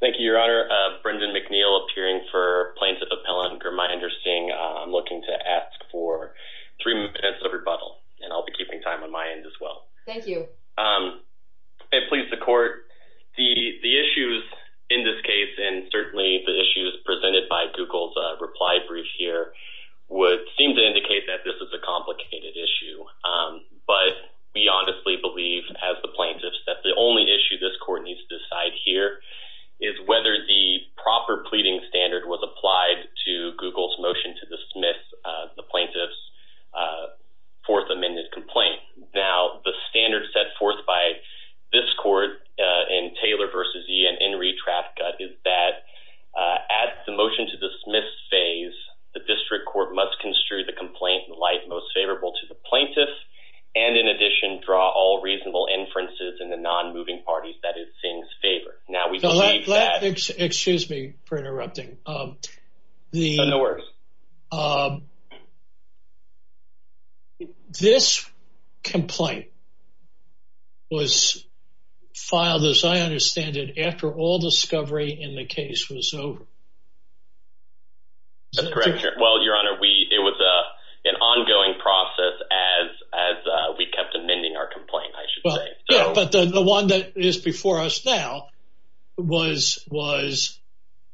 Thank you, Your Honor. Brendan McNeil, appearing for Plaintiff Appellant Gurmahinder Singh. I'm looking to ask for three minutes of rebuttal, and I'll be keeping time on my end as well. Thank you. And please, the Court, the issues in this case, and certainly the issues presented by Google's reply brief here, would seem to indicate that this is a complicated issue. But we honestly believe, as the plaintiffs, that the only issue this Court needs to decide here is whether the proper pleading standard was applied to Google's motion to dismiss the plaintiff's Fourth Amendment complaint. Now, the standard set forth by this Court in Taylor v. E. and Enri Trafka is that at the motion-to-dismiss phase, the District Court must construe the reasonable inferences in the non-moving parties, that is, Singh's favorite. Now, we believe that... Excuse me for interrupting. No, no worries. This complaint was filed, as I understand it, after all discovery in the case was over. That's correct, Your Honor. Well, Your Honor, it was an ongoing process as we kept amending our complaint, I should say. Yeah, but the one that is before us now was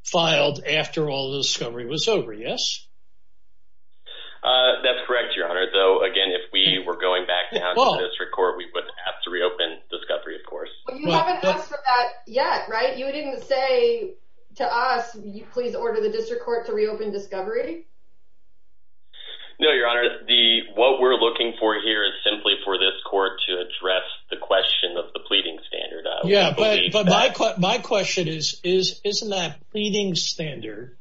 filed after all the discovery was over, yes? That's correct, Your Honor. Though, again, if we were going back down to the District Court, we would have to reopen discovery, of course. Well, you haven't asked for that yet, right? You didn't say to us, you please order the District Court to reopen discovery? No, Your Honor. What we're looking for here is simply for this court to address the question of the pleading standard. Yeah, but my question is, isn't that pleading standard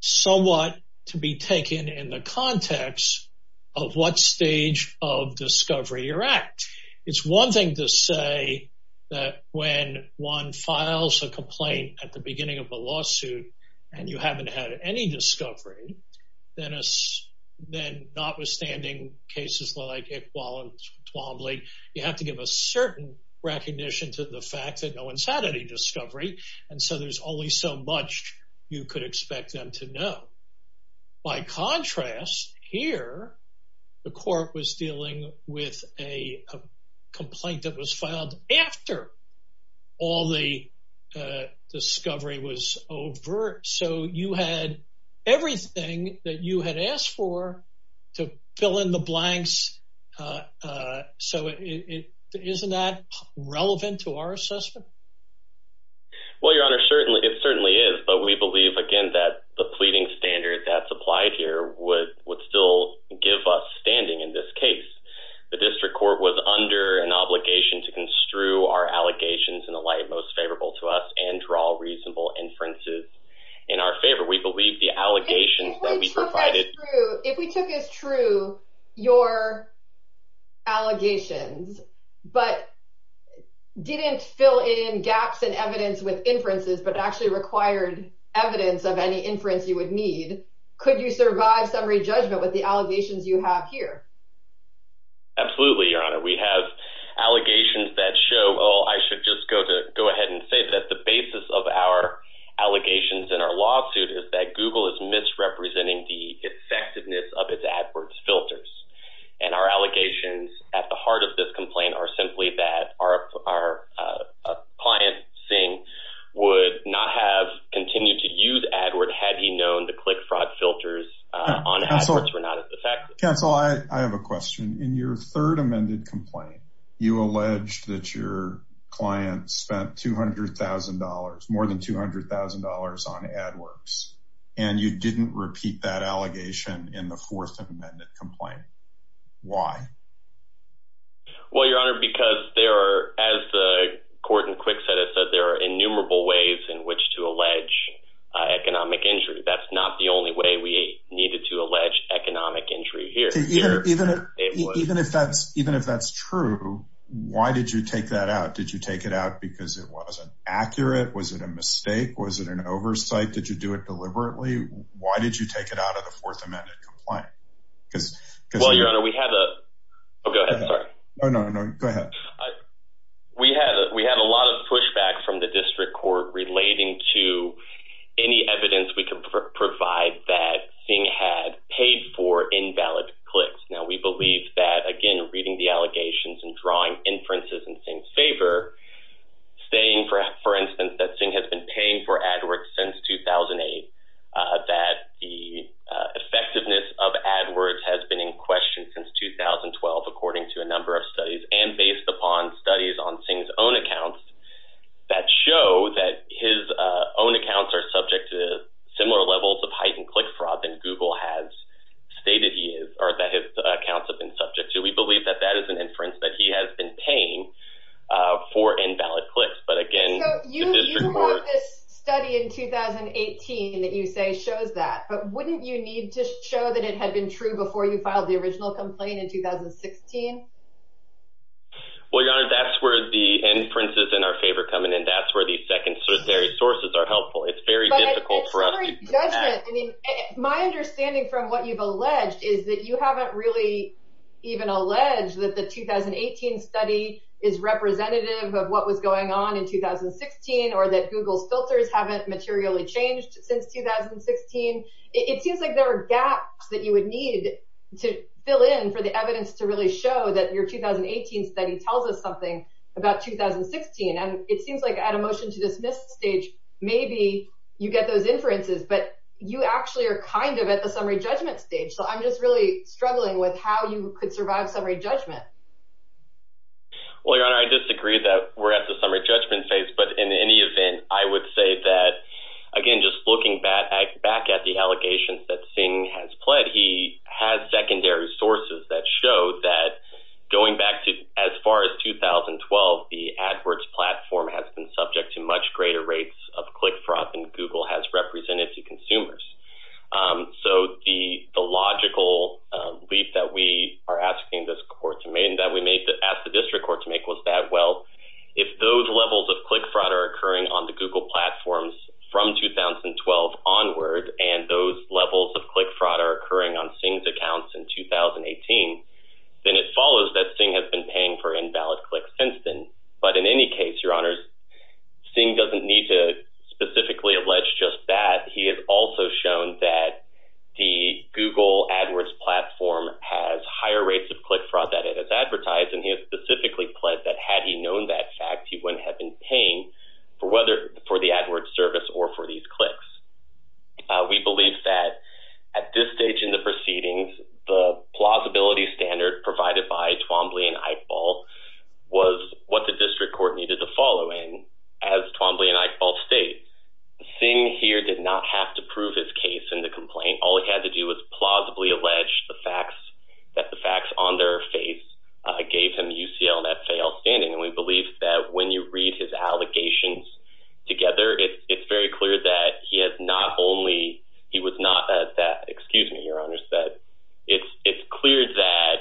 somewhat to be taken in the context of what stage of discovery you're at? It's one thing to say that when one files a complaint at the beginning of a lawsuit and you haven't had any discovery, then notwithstanding cases like Iqbal and Twombly, you have to give a certain recognition to the fact that no one's had any discovery, and so there's only so much you could expect them to know. By contrast, here, the court was dealing with a complaint that was filed after all the discovery was over, so you had everything that you had asked for to fill in the blanks, so isn't that relevant to our assessment? Well, Your Honor, it certainly is, but we believe, again, that the pleading standard that's applied here would still give us standing in this case. The District Court was under an obligation to construe our allegations in the light most favorable to us and draw reasonable inferences in our favor. We believe the allegations that we provided- gaps in evidence with inferences, but actually required evidence of any inference you would need-could you survive summary judgment with the allegations you have here? Absolutely, Your Honor. We have allegations that show-oh, I should just go ahead and say that the basis of our allegations in our lawsuit is that Google is misrepresenting the effectiveness of its AdWords filters, and our allegations at the heart of this complaint are simply that our client, Singh, would not have continued to use AdWords had he known the click fraud filters on AdWords were not as effective. Counsel, I have a question. In your third amended complaint, you alleged that your client spent $200,000, more than $200,000 on AdWords, and you didn't repeat that allegation in the fourth amended complaint. Why? Well, Your Honor, because there are, as the court in QuickSet has said, there are innumerable ways in which to allege economic injury. That's not the only way we needed to allege economic injury here. Even if that's true, why did you take that out? Did you take it out because it wasn't accurate? Was it a mistake? Was it an oversight? Did you do it deliberately? Why did you take it out of the fourth amended complaint? Well, Your Honor, we had a... Oh, go ahead. Sorry. No, no, no. Go ahead. We had a lot of pushback from the district court relating to any evidence we could provide that Singh had paid for invalid clicks. Now, we believe that, again, reading the allegations and drawing inferences in Singh's favor, saying, for instance, that Singh has been paying for invalid clicks. We believe that that is an inference that he has been paying for invalid clicks. But, again, the district court... So, you brought this study in 2018 that you say shows that, but wouldn't you need to show that it had been true before you filed the original complaint in 2016? Well, Your Honor, that's where the inferences in our favor come in, and that's where the secondary sources are helpful. It's very difficult for us... But in summary judgment, I mean, my understanding from what you've alleged is that you haven't really even alleged that the 2018 study is representative of what was going on in 2016 or that Google's filters haven't materially changed since 2016. It seems like there are gaps that you would need to fill in for the evidence to really show that your 2018 study tells us something about 2016. And it seems like at a motion to dismiss stage, maybe you get those inferences, but you actually are kind of at the summary judgment stage. So, I'm just really struggling with how you could survive summary judgment. Well, Your Honor, I disagree that we're at the summary judgment phase, but in any event, I would say that, again, just looking back at the allegations that Singh has pled, he has secondary sources that show that going back to as far as 2012, the AdWords platform has been subject to much greater rates of click fraud than Google has represented to consumers. So, the logical leap that we are asking this court to make and that we may ask the district court to make was that, well, if those levels of click fraud are occurring on the Google platforms from 2012 onward, and those levels of click fraud are occurring on Singh's accounts in 2018, then it follows that Singh has been paying for invalid clicks since then. But in any case, Your Honors, Singh doesn't need to specifically allege just that. He has also shown that the Google AdWords platform has higher rates of click fraud than it has advertised, and he has specifically pled that had he known that fact, he wouldn't have been paying for the AdWords service or for these clicks. We believe that at this stage in the proceedings, the plausibility standard provided by Twombly and Eichball was what the district court needed to follow in. As Twombly and Eichball state, Singh here did not have to prove his case in the UCL and FAL standing, and we believe that when you read his allegations together, it's very clear that he was not at that, excuse me, Your Honors, that it's clear that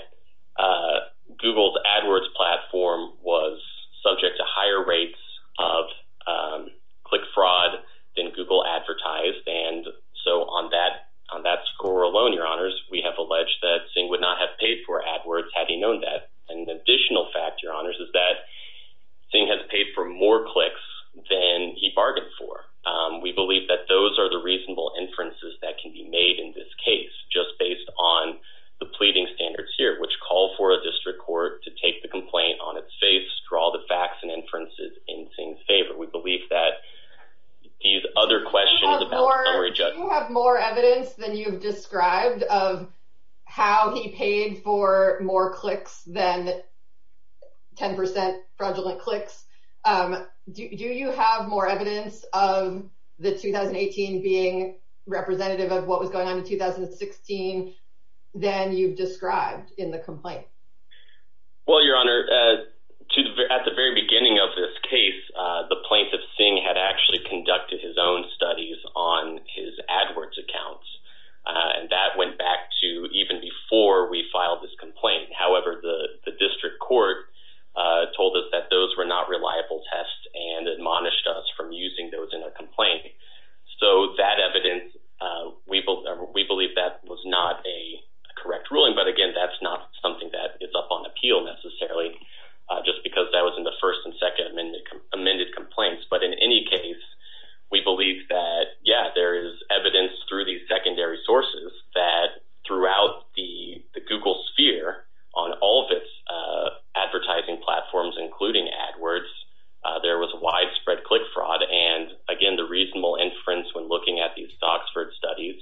Google's AdWords platform was subject to higher rates of click fraud than Google advertised. And so, on that score alone, Your Honors, we have alleged that Singh would not have paid for AdWords had he known that, and the additional fact, Your Honors, is that Singh has paid for more clicks than he bargained for. We believe that those are the reasonable inferences that can be made in this case, just based on the pleading standards here, which call for a district court to take the complaint on its face, draw the facts and inferences in Singh's favor. We believe that these other questions about summary judgment... You have more evidence than you've described of how he paid for more clicks than 10% fraudulent clicks. Do you have more evidence of the 2018 being representative of what was going on in 2016 than you've described in the complaint? Well, Your Honor, at the very beginning of this case, the plaintiff, Singh, had actually conducted his own studies on his AdWords accounts. And that went back to even before we filed this complaint. However, the district court told us that those were not reliable tests and admonished us from using those in a complaint. So that evidence, we believe that was not a correct ruling. But again, that's not something that is up on appeal necessarily, just because that was the first and second amended complaints. But in any case, we believe that, yeah, there is evidence through these secondary sources that throughout the Google sphere, on all of its advertising platforms, including AdWords, there was widespread click fraud. And again, the reasonable inference when looking at these Soxford studies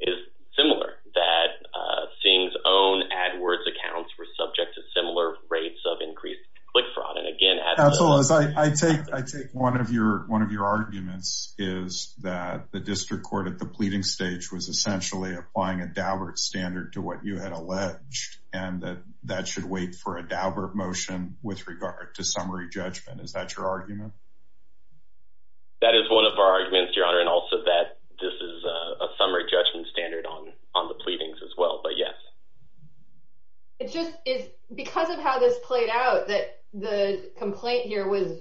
is similar, that Singh's own AdWords accounts were subject to AdWords. Counselors, I take one of your arguments is that the district court at the pleading stage was essentially applying a Daubert standard to what you had alleged, and that that should wait for a Daubert motion with regard to summary judgment. Is that your argument? That is one of our arguments, Your Honor, and also that this is a summary judgment standard on the pleadings as well. But again, it just is because of how this played out that the complaint here was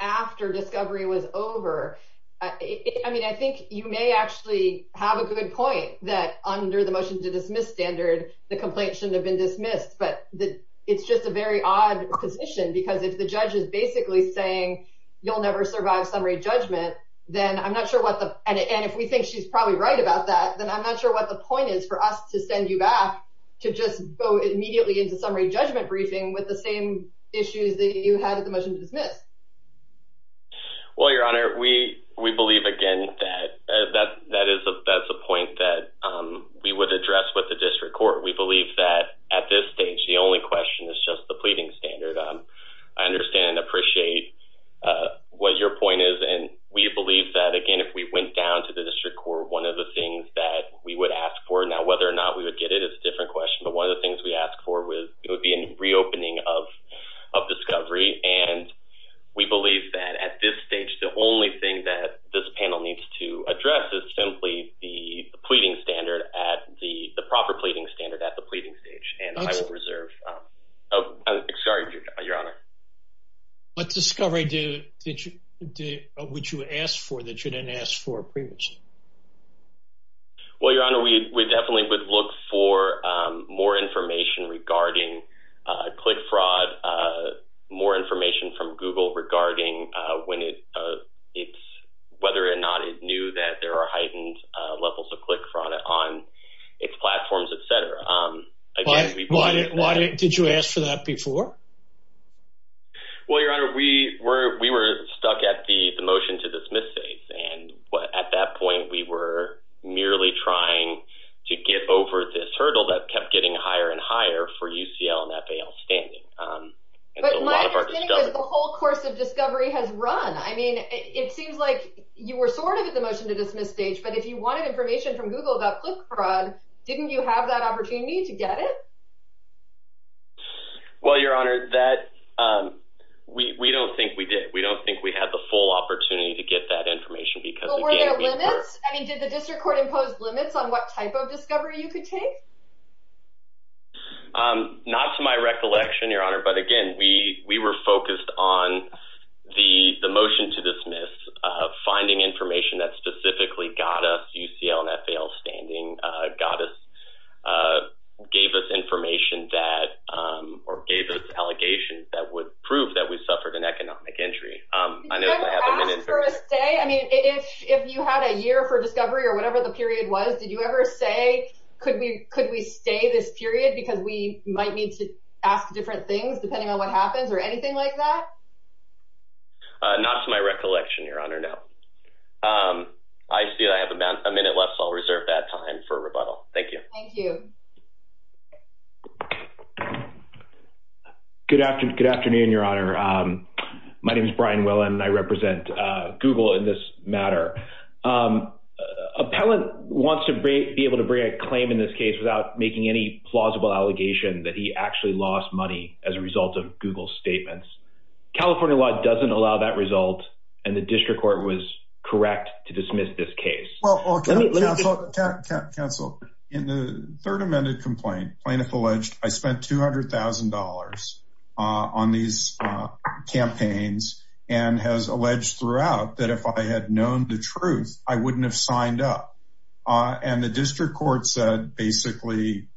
after discovery was over. I mean, I think you may actually have a good point that under the motion to dismiss standard, the complaint shouldn't have been dismissed. But it's just a very odd position, because if the judge is basically saying, you'll never survive summary judgment, then I'm not sure what the and if we think she's probably right about that, then I'm not sure what the point is for us to send you back to just go immediately into summary judgment briefing with the same issues that you had at the motion to dismiss. Well, Your Honor, we believe again that that's a point that we would address with the district court. We believe that at this stage, the only question is just the pleading standard. I understand and appreciate what your point is. And we believe that again, if we went down to the district court, one of the things that we would ask for now, whether or not we would get it, it's a different question. But one of the things we ask for with it would be in reopening of of discovery. And we believe that at this stage, the only thing that this panel needs to address is simply the pleading standard at the proper pleading standard at the pleading stage and reserve. Oh, sorry, Your Honor. Let's discovery did you would you ask for that you didn't ask for previously? Well, Your Honor, we definitely would look for more information regarding click fraud, more information from Google regarding when it's whether or not it knew that there are heightened levels of click fraud on its platforms, et cetera. Why did you ask for that before? Well, Your Honor, we were we were stuck at the motion to dismiss states. And at that point, we were merely trying to get over this hurdle that kept getting higher and higher for UCL and FAL standing. But my understanding is the whole course of discovery has run. I mean, it seems like you were sort of at the motion to dismiss stage. But if you wanted information from Google about click fraud, didn't you have that opportunity to get it? Well, Your Honor, that we don't think we did. We don't think we had the full opportunity to get that information because we're limits. I mean, did the district court imposed limits on what type of discovery you could take? Not to my recollection, Your Honor. But again, we we were focused on the the motion to dismiss finding information that specifically got us UCL and FAL standing, gave us information that or gave us allegations that would prove that we suffered an economic injury. Did you ever ask for a stay? I mean, if you had a year for discovery or whatever the period was, did you ever say, could we could we stay this period because we might need to ask different things depending on what happens or anything like that? Not to my recollection, Your Honor, no. I see I have about a minute left, so I'll reserve that time for rebuttal. Thank you. Thank you. Good afternoon. Good afternoon, Your Honor. My name is Brian Willen. I represent Google in this matter. Appellant wants to be able to bring a claim in this case without making any plausible allegation that he actually lost money as a result of Google statements. California law doesn't allow that result, and the district court was correct to dismiss this case. Counsel, in the third amended complaint, plaintiff alleged I spent $200,000 on these campaigns and has alleged throughout that if I had known the truth, I wouldn't have signed up. And the district court said basically,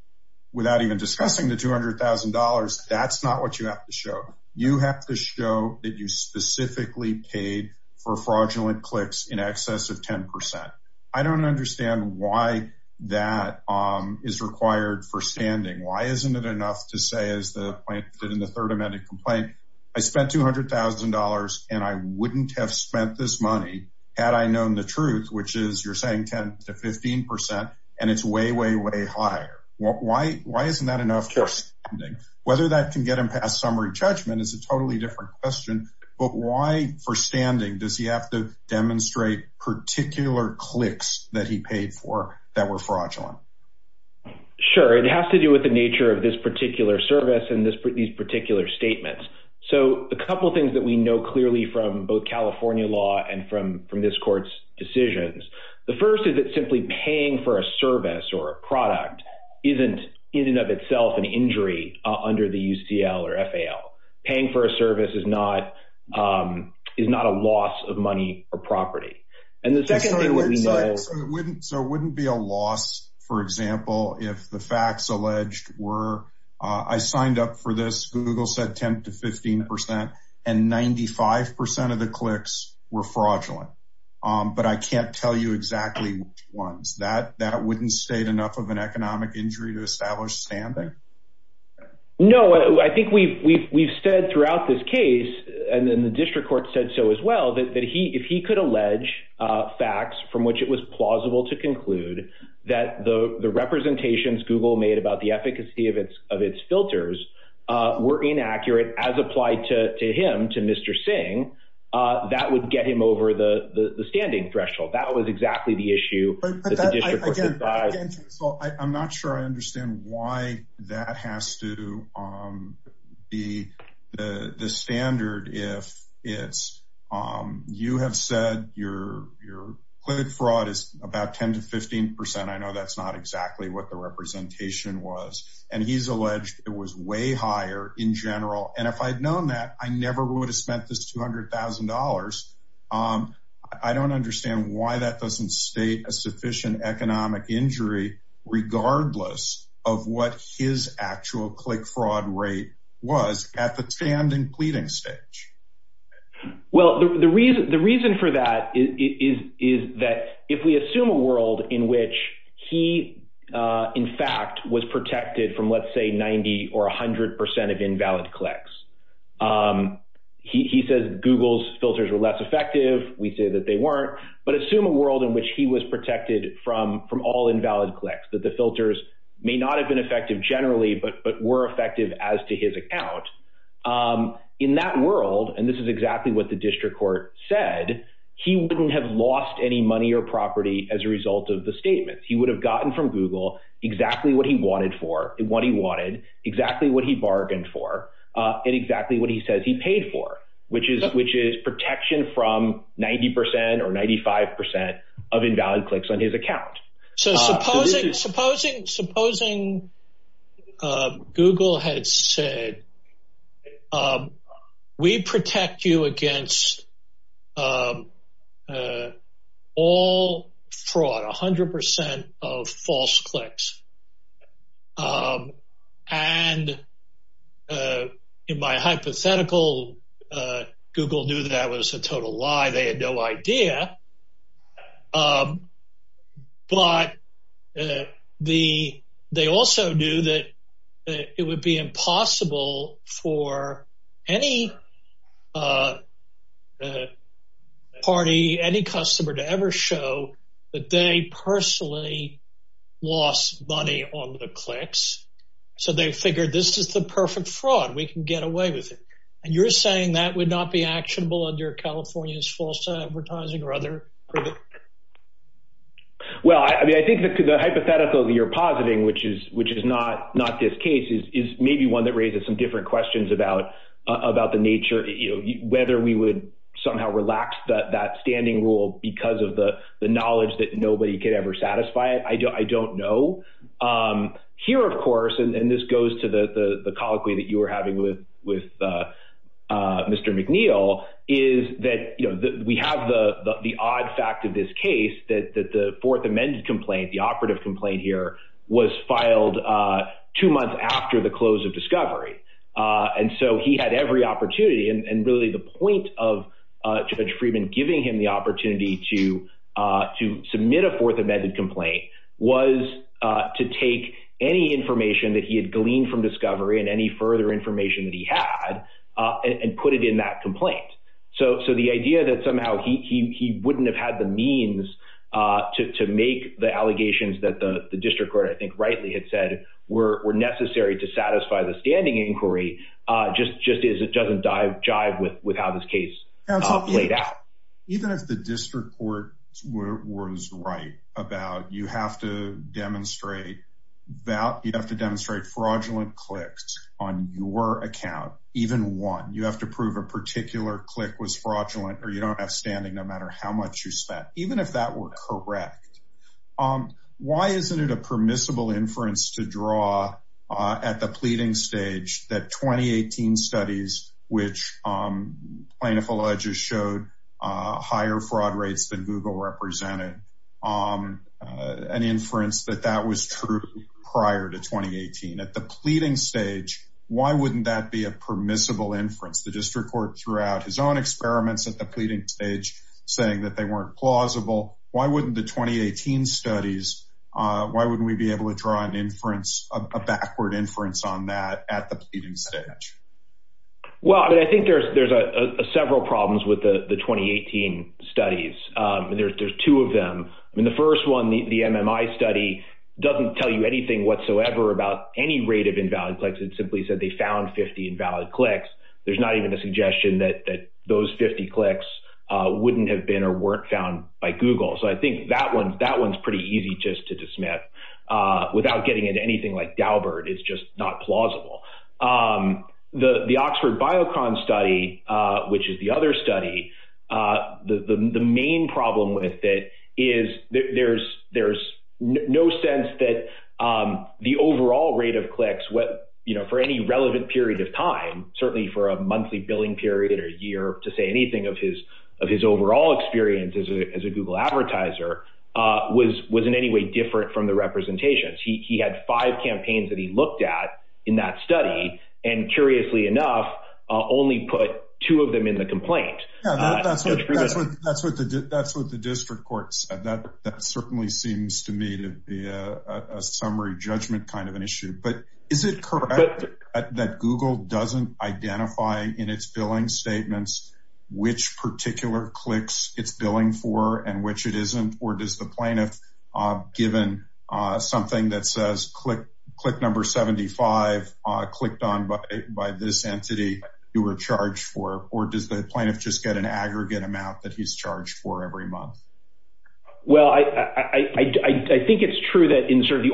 without even discussing the $200,000, that's not what you have to show. You have to show that you specifically paid for fraudulent clicks in excess of 10%. I don't understand why that is required for standing. Why isn't it enough to say as the plaintiff in the third amended complaint, I spent $200,000 and I wouldn't have spent this money had I known the truth, which is you're saying 10 to 15% and it's way, way higher. Why isn't that enough for standing? Whether that can get him past summary judgment is a totally different question. But why for standing does he have to demonstrate particular clicks that he paid for that were fraudulent? Sure. It has to do with the nature of this particular service and these particular statements. So a couple of things that we know clearly from both California law and from this court's decisions. The first is that simply paying for a service or a product isn't in and of itself an injury under the UCL or FAL. Paying for a service is not a loss of money or property. And the second thing that we know... So it wouldn't be a loss, for example, if the facts alleged were I signed up for this, Google said 10 to 15% and 95% of the clicks were fraudulent. But I can't tell you exactly which ones. That wouldn't state enough of an economic injury to establish standing? No, I think we've said throughout this case, and then the district court said so as well, that if he could allege facts from which it was plausible to conclude that the representations Google made about the efficacy of its filters were inaccurate as applied to him, to Mr. Singh, that would get him over the standing threshold. That was exactly the issue. I'm not sure I understand why that has to be the standard if it's, you have said your fraud is about 10 to 15%. I know that's not exactly what the representation was. And he's alleged it was way higher in general. And if I'd known that I never would have spent this $200,000, I don't understand why that doesn't state a sufficient economic injury, regardless of what his actual click fraud rate was at the standing pleading stage. Well, the reason for that is that if we assume a world in which he, in fact, was protected from, let's say, 90 or 100% of invalid clicks, he says Google's filters were less effective. We say that they weren't. But assume a world in which he was protected from all invalid clicks, that the filters may not have been effective generally, but were effective as to his account. In that world, and this is exactly what the district court said, he wouldn't have lost any money or property as a result of the statements. He would have gotten from Google exactly what he wanted for, what he wanted, exactly what he bargained for, and exactly what he says he paid for, which is protection from 90% or 95% of invalid clicks on his account. So supposing Google had said, we protect you against all fraud, 100% of false clicks. And in my hypothetical, Google knew that was a total lie. They had no idea. But they also knew that it would be impossible for any party, any customer to ever show that they personally lost money on the clicks. So they figured this is the perfect fraud, we can get away with it. And you're saying that would not be actionable under California's false advertising or other? Well, I mean, I think the hypothetical that you're positing, which is not this case, is maybe one that raises some different questions about the nature, whether we would somehow relax that standing rule because of the knowledge that nobody could ever satisfy it. I don't know. Here, of course, and this goes to the colloquy that you were having with Mr. McNeil, is that we have the odd fact of this case that the fourth amended complaint, the operative complaint here, was filed two months after the close of Discovery. And so he had every opportunity and really the point of Judge Friedman giving him the opportunity to submit a fourth amended complaint was to take any information that he had gleaned from Discovery and any further information that he had and put it in that complaint. So the idea that somehow he wouldn't have had the means to make the allegations that the inquiry just is, it doesn't jive with how this case played out. Even if the district court was right about you have to demonstrate fraudulent clicks on your account, even one, you have to prove a particular click was fraudulent or you don't have standing no matter how much you spent. Even if that were correct, why isn't it a permissible inference to draw at the pleading stage that 2018 studies, which plaintiff alleges showed higher fraud rates than Google represented, an inference that that was true prior to 2018? At the pleading stage, why wouldn't that be a permissible inference? The district court threw out his own experiments at the pleading stage saying that they weren't plausible. Why wouldn't the 2018 studies, why wouldn't we be able to draw an inference, a backward inference on that at the pleading stage? Well, I think there's several problems with the 2018 studies. There's two of them. I mean, the first one, the MMI study doesn't tell you anything whatsoever about any rate of invalid clicks. It simply said they found 50 invalid clicks. There's not even a suggestion that those 50 clicks wouldn't have been or weren't found by Google. So I think that one's pretty easy just to dismiss without getting into anything like Daubert. It's just not plausible. The Oxford Biocon study, which is the other study, the main problem with it is there's no sense that the overall rate of clicks for any relevant period of time, certainly for a monthly billing period or year to say anything of his overall experience as a Google advertiser, was in any way different from the representations. He had five campaigns that he looked at in that study and curiously enough, only put two of them in the complaint. Yeah, that's what the district court said. That certainly seems to me to be a summary judgment kind of an issue. But is it correct that Google doesn't identify in its billing statements which particular clicks it's billing for and which it isn't? Or does the plaintiff given something that amount that he's charged for every month? Well, I think it's true that in sort of the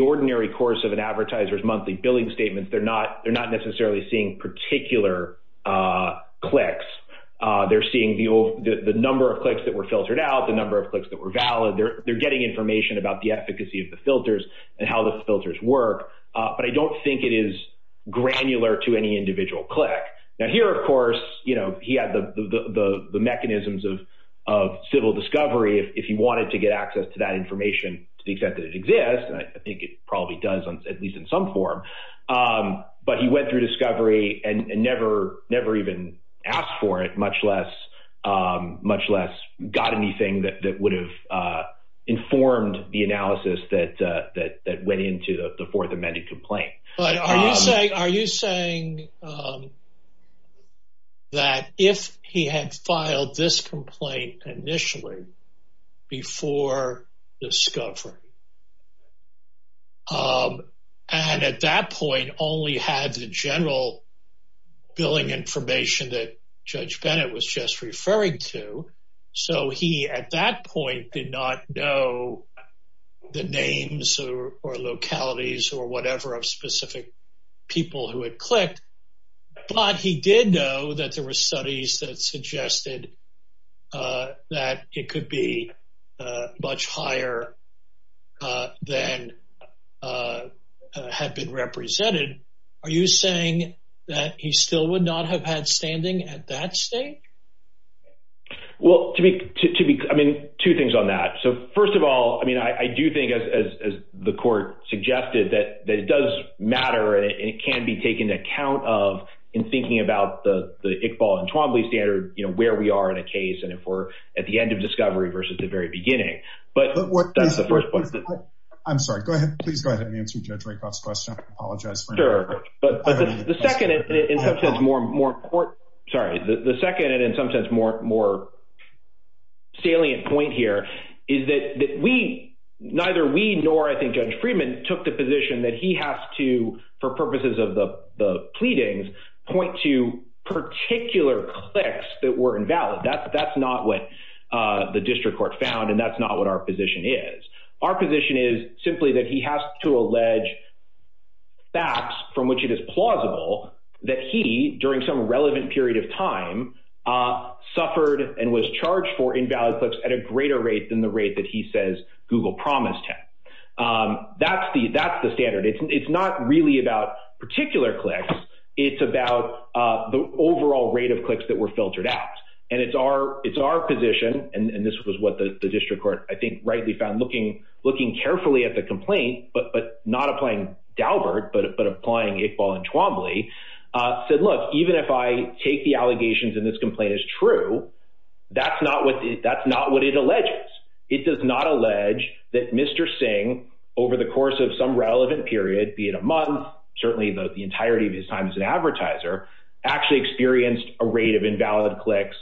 ordinary course of an advertiser's monthly billing statements, they're not necessarily seeing particular clicks. They're seeing the number of clicks that were filtered out, the number of clicks that were valid. They're getting information about the efficacy of the filters and how the filters work. But I don't think it is granular to any individual click. Now here, of course, he had the mechanisms of civil discovery if he wanted to get access to that information to the extent that it exists. And I think it probably does, at least in some form. But he went through discovery and never even asked for it, much less got anything that would have informed the analysis that went into the fourth amended complaint. But are you saying that if he had filed this complaint initially before discovery, and at that point only had the general billing information that Judge Bennett was just referring to, so he at that point did not know the names or localities or whatever of specific people who had clicked, but he did know that there were studies that suggested that it could be much higher than had been represented, are you saying that he still would not have had standing at that state? Well, I mean, two things on that. So first of all, I mean, I do think, as the court suggested, that it does matter and it can be taken into account of in thinking about the Iqbal and Twombly standard, where we are in a case and if we're at the end of discovery versus the very beginning. I'm sorry, go ahead. Please go ahead and answer Judge Rakoff's question. I apologize for interruption. Sure, but the second and in some sense more important, sorry, the second and in some sense more salient point here is that we, neither we nor I think Judge Friedman took the position that he has to, for purposes of the pleadings, point to particular clicks that were invalid. That's not what the district court found and that's not what our position is. Our position is simply that he has to allege facts from which it is plausible that he, during some relevant period of time, suffered and was charged for invalid clicks at a greater rate than the rate that he says Google promised him. That's the standard. It's not really about particular clicks, it's about the overall rate of clicks that were filtered out. And it's our position, and this was what the district court, I think, rightly found, looking carefully at the complaint, but not applying Daubert, but applying Iqbal and Twombly, said, look, even if I take the allegations and this complaint is true, that's not what it alleges. It does not allege that Mr. Singh, over the course of some relevant period, be it a month, certainly the entirety of his time as an advertiser, actually experienced a rate of invalid clicks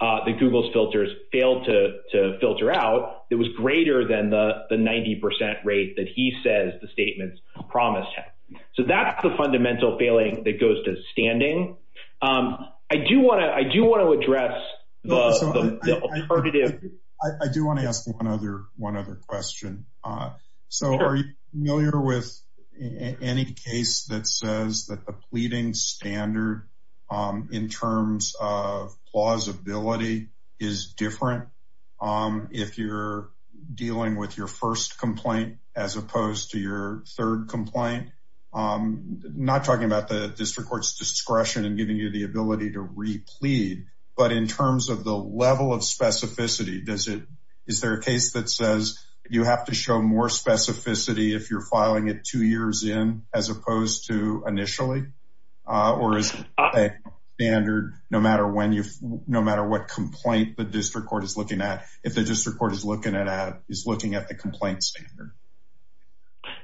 that Google's filters failed to filter out that was greater than the 90% rate that he says the statements promised him. So that's the fundamental failing that goes to standing. I do want to address the alternative. I do want to ask one other question. So are you familiar with any case that says that the pleading standard in terms of plausibility is different if you're dealing with your first complaint, as opposed to your third complaint? I'm not talking about the district court's does it? Is there a case that says you have to show more specificity if you're filing it two years in, as opposed to initially? Or is it a standard, no matter what complaint the district court is looking at, if the district court is looking at the complaint standard?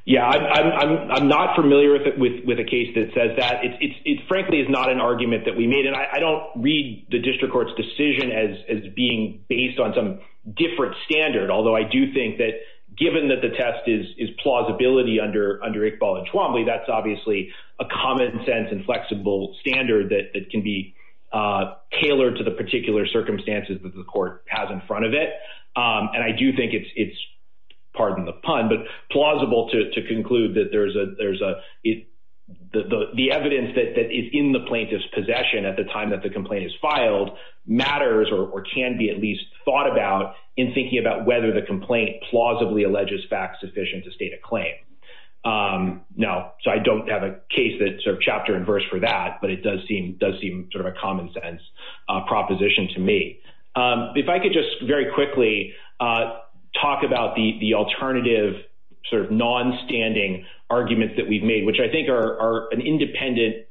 Yeah, I'm not familiar with a case that says that. It, frankly, is not an argument that we and I don't read the district court's decision as being based on some different standard. Although I do think that given that the test is plausibility under under Iqbal and Twombly, that's obviously a common sense and flexible standard that can be tailored to the particular circumstances that the court has in front of it. And I do think it's pardon the pun, but plausible to conclude that there's the evidence that is in the plaintiff's possession at the time that the complaint is filed matters or can be at least thought about in thinking about whether the complaint plausibly alleges facts sufficient to state a claim. Now, so I don't have a case that sort of chapter and verse for that, but it does seem sort of a common sense proposition to me. If I could just very quickly talk about the alternative sort of non-standing arguments that we've made, which I think are an independent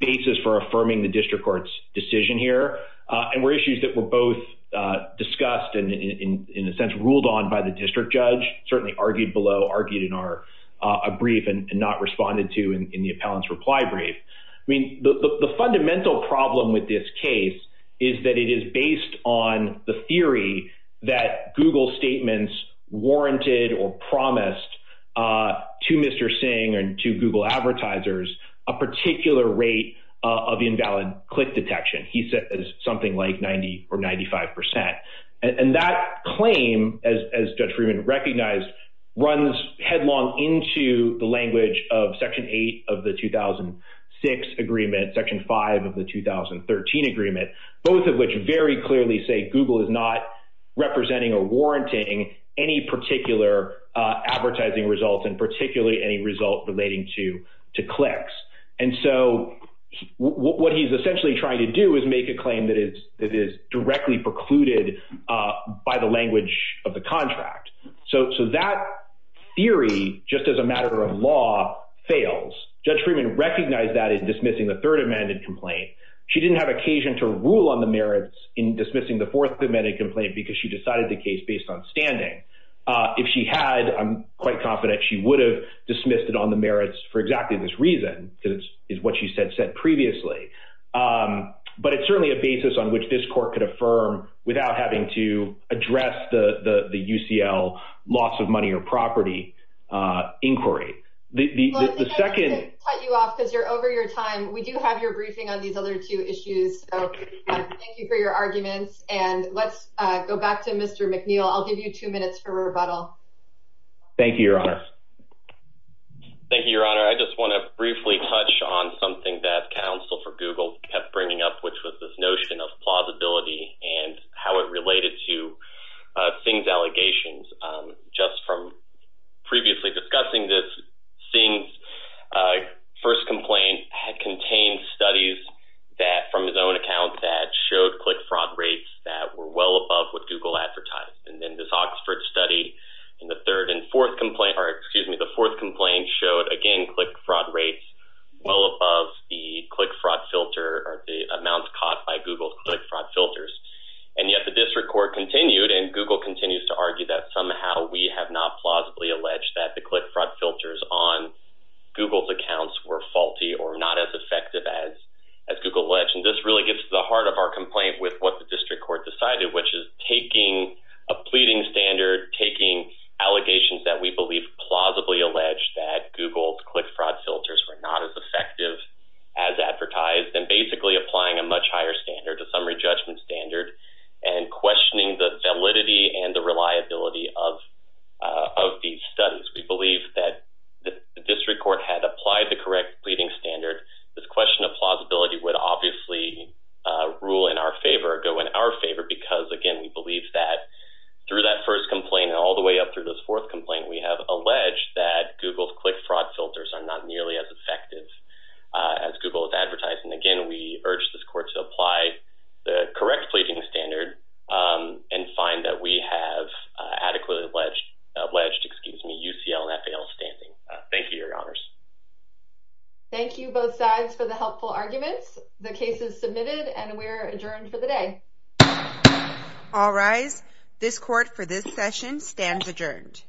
basis for affirming the district court's decision here and were issues that were both discussed and in a sense ruled on by the district judge, certainly argued below, argued in our brief and not responded to in the appellant's reply brief. I mean, the fundamental problem with this case is that it is based on the theory that Google statements warranted or promised to Mr. Singh and to Google advertisers, a particular rate of invalid click detection. He said something like 90 or 95%. And that claim as Judge Freeman recognized, runs headlong into the language of section eight of the 2006 agreement, section five of the 2013 agreement, both of which very clearly say Google is not representing or warranting any particular advertising results and particularly any result relating to clicks. And so what he's essentially trying to do is make a claim that is directly precluded by the language of the contract. So that theory, just as a matter of law, fails. Judge Freeman recognized that in dismissing the third amended complaint. She didn't have occasion to rule on the merits in dismissing the fourth amended complaint because she decided the case based on standing. If she had, I'm quite confident she would have dismissed it on the merits for exactly this reason, because it's what she said said previously. But it's certainly a basis on which this court could affirm without having to loss of money or property inquiry. The second... Let me cut you off because you're over your time. We do have your briefing on these other two issues. So thank you for your arguments. And let's go back to Mr. McNeil. I'll give you two minutes for rebuttal. Thank you, Your Honor. Thank you, Your Honor. I just want to briefly touch on something that counsel for Google kept bringing up, which was this notion of plausibility and how it related to Singh's allegations. Just from previously discussing this, Singh's first complaint had contained studies that, from his own account, that showed click fraud rates that were well above what Google advertised. And then this Oxford study in the third and fourth complaint, or excuse me, the fourth complaint showed, again, click fraud rates well above the click fraud filter or the amounts caught by Google's click fraud filters. And yet the district court continued and Google continues to argue that somehow we have not plausibly alleged that the click fraud filters on Google's accounts were faulty or not as effective as Google alleged. And this really gets to the heart of our complaint with what the district court decided, which is taking a pleading standard, taking allegations that we believe plausibly alleged that Google's click fraud filters were not as effective as advertised, and basically applying a much higher standard, a summary judgment standard, and questioning the validity and the reliability of these studies. We believe that the district court had applied the correct pleading standard. This question of plausibility would obviously rule in our favor, go in our favor, because, again, we believe that through that first complaint and all the way up through this fourth complaint, we have alleged that Google's click fraud filters are not nearly as effective as Google has advertised. And again, we urge this court to apply the correct pleading standard and find that we have adequately alleged, excuse me, UCL and FAL standing. Thank you, your honors. Thank you both sides for the helpful arguments. The case is submitted and we're adjourned for the day. All rise. This court for this session stands adjourned.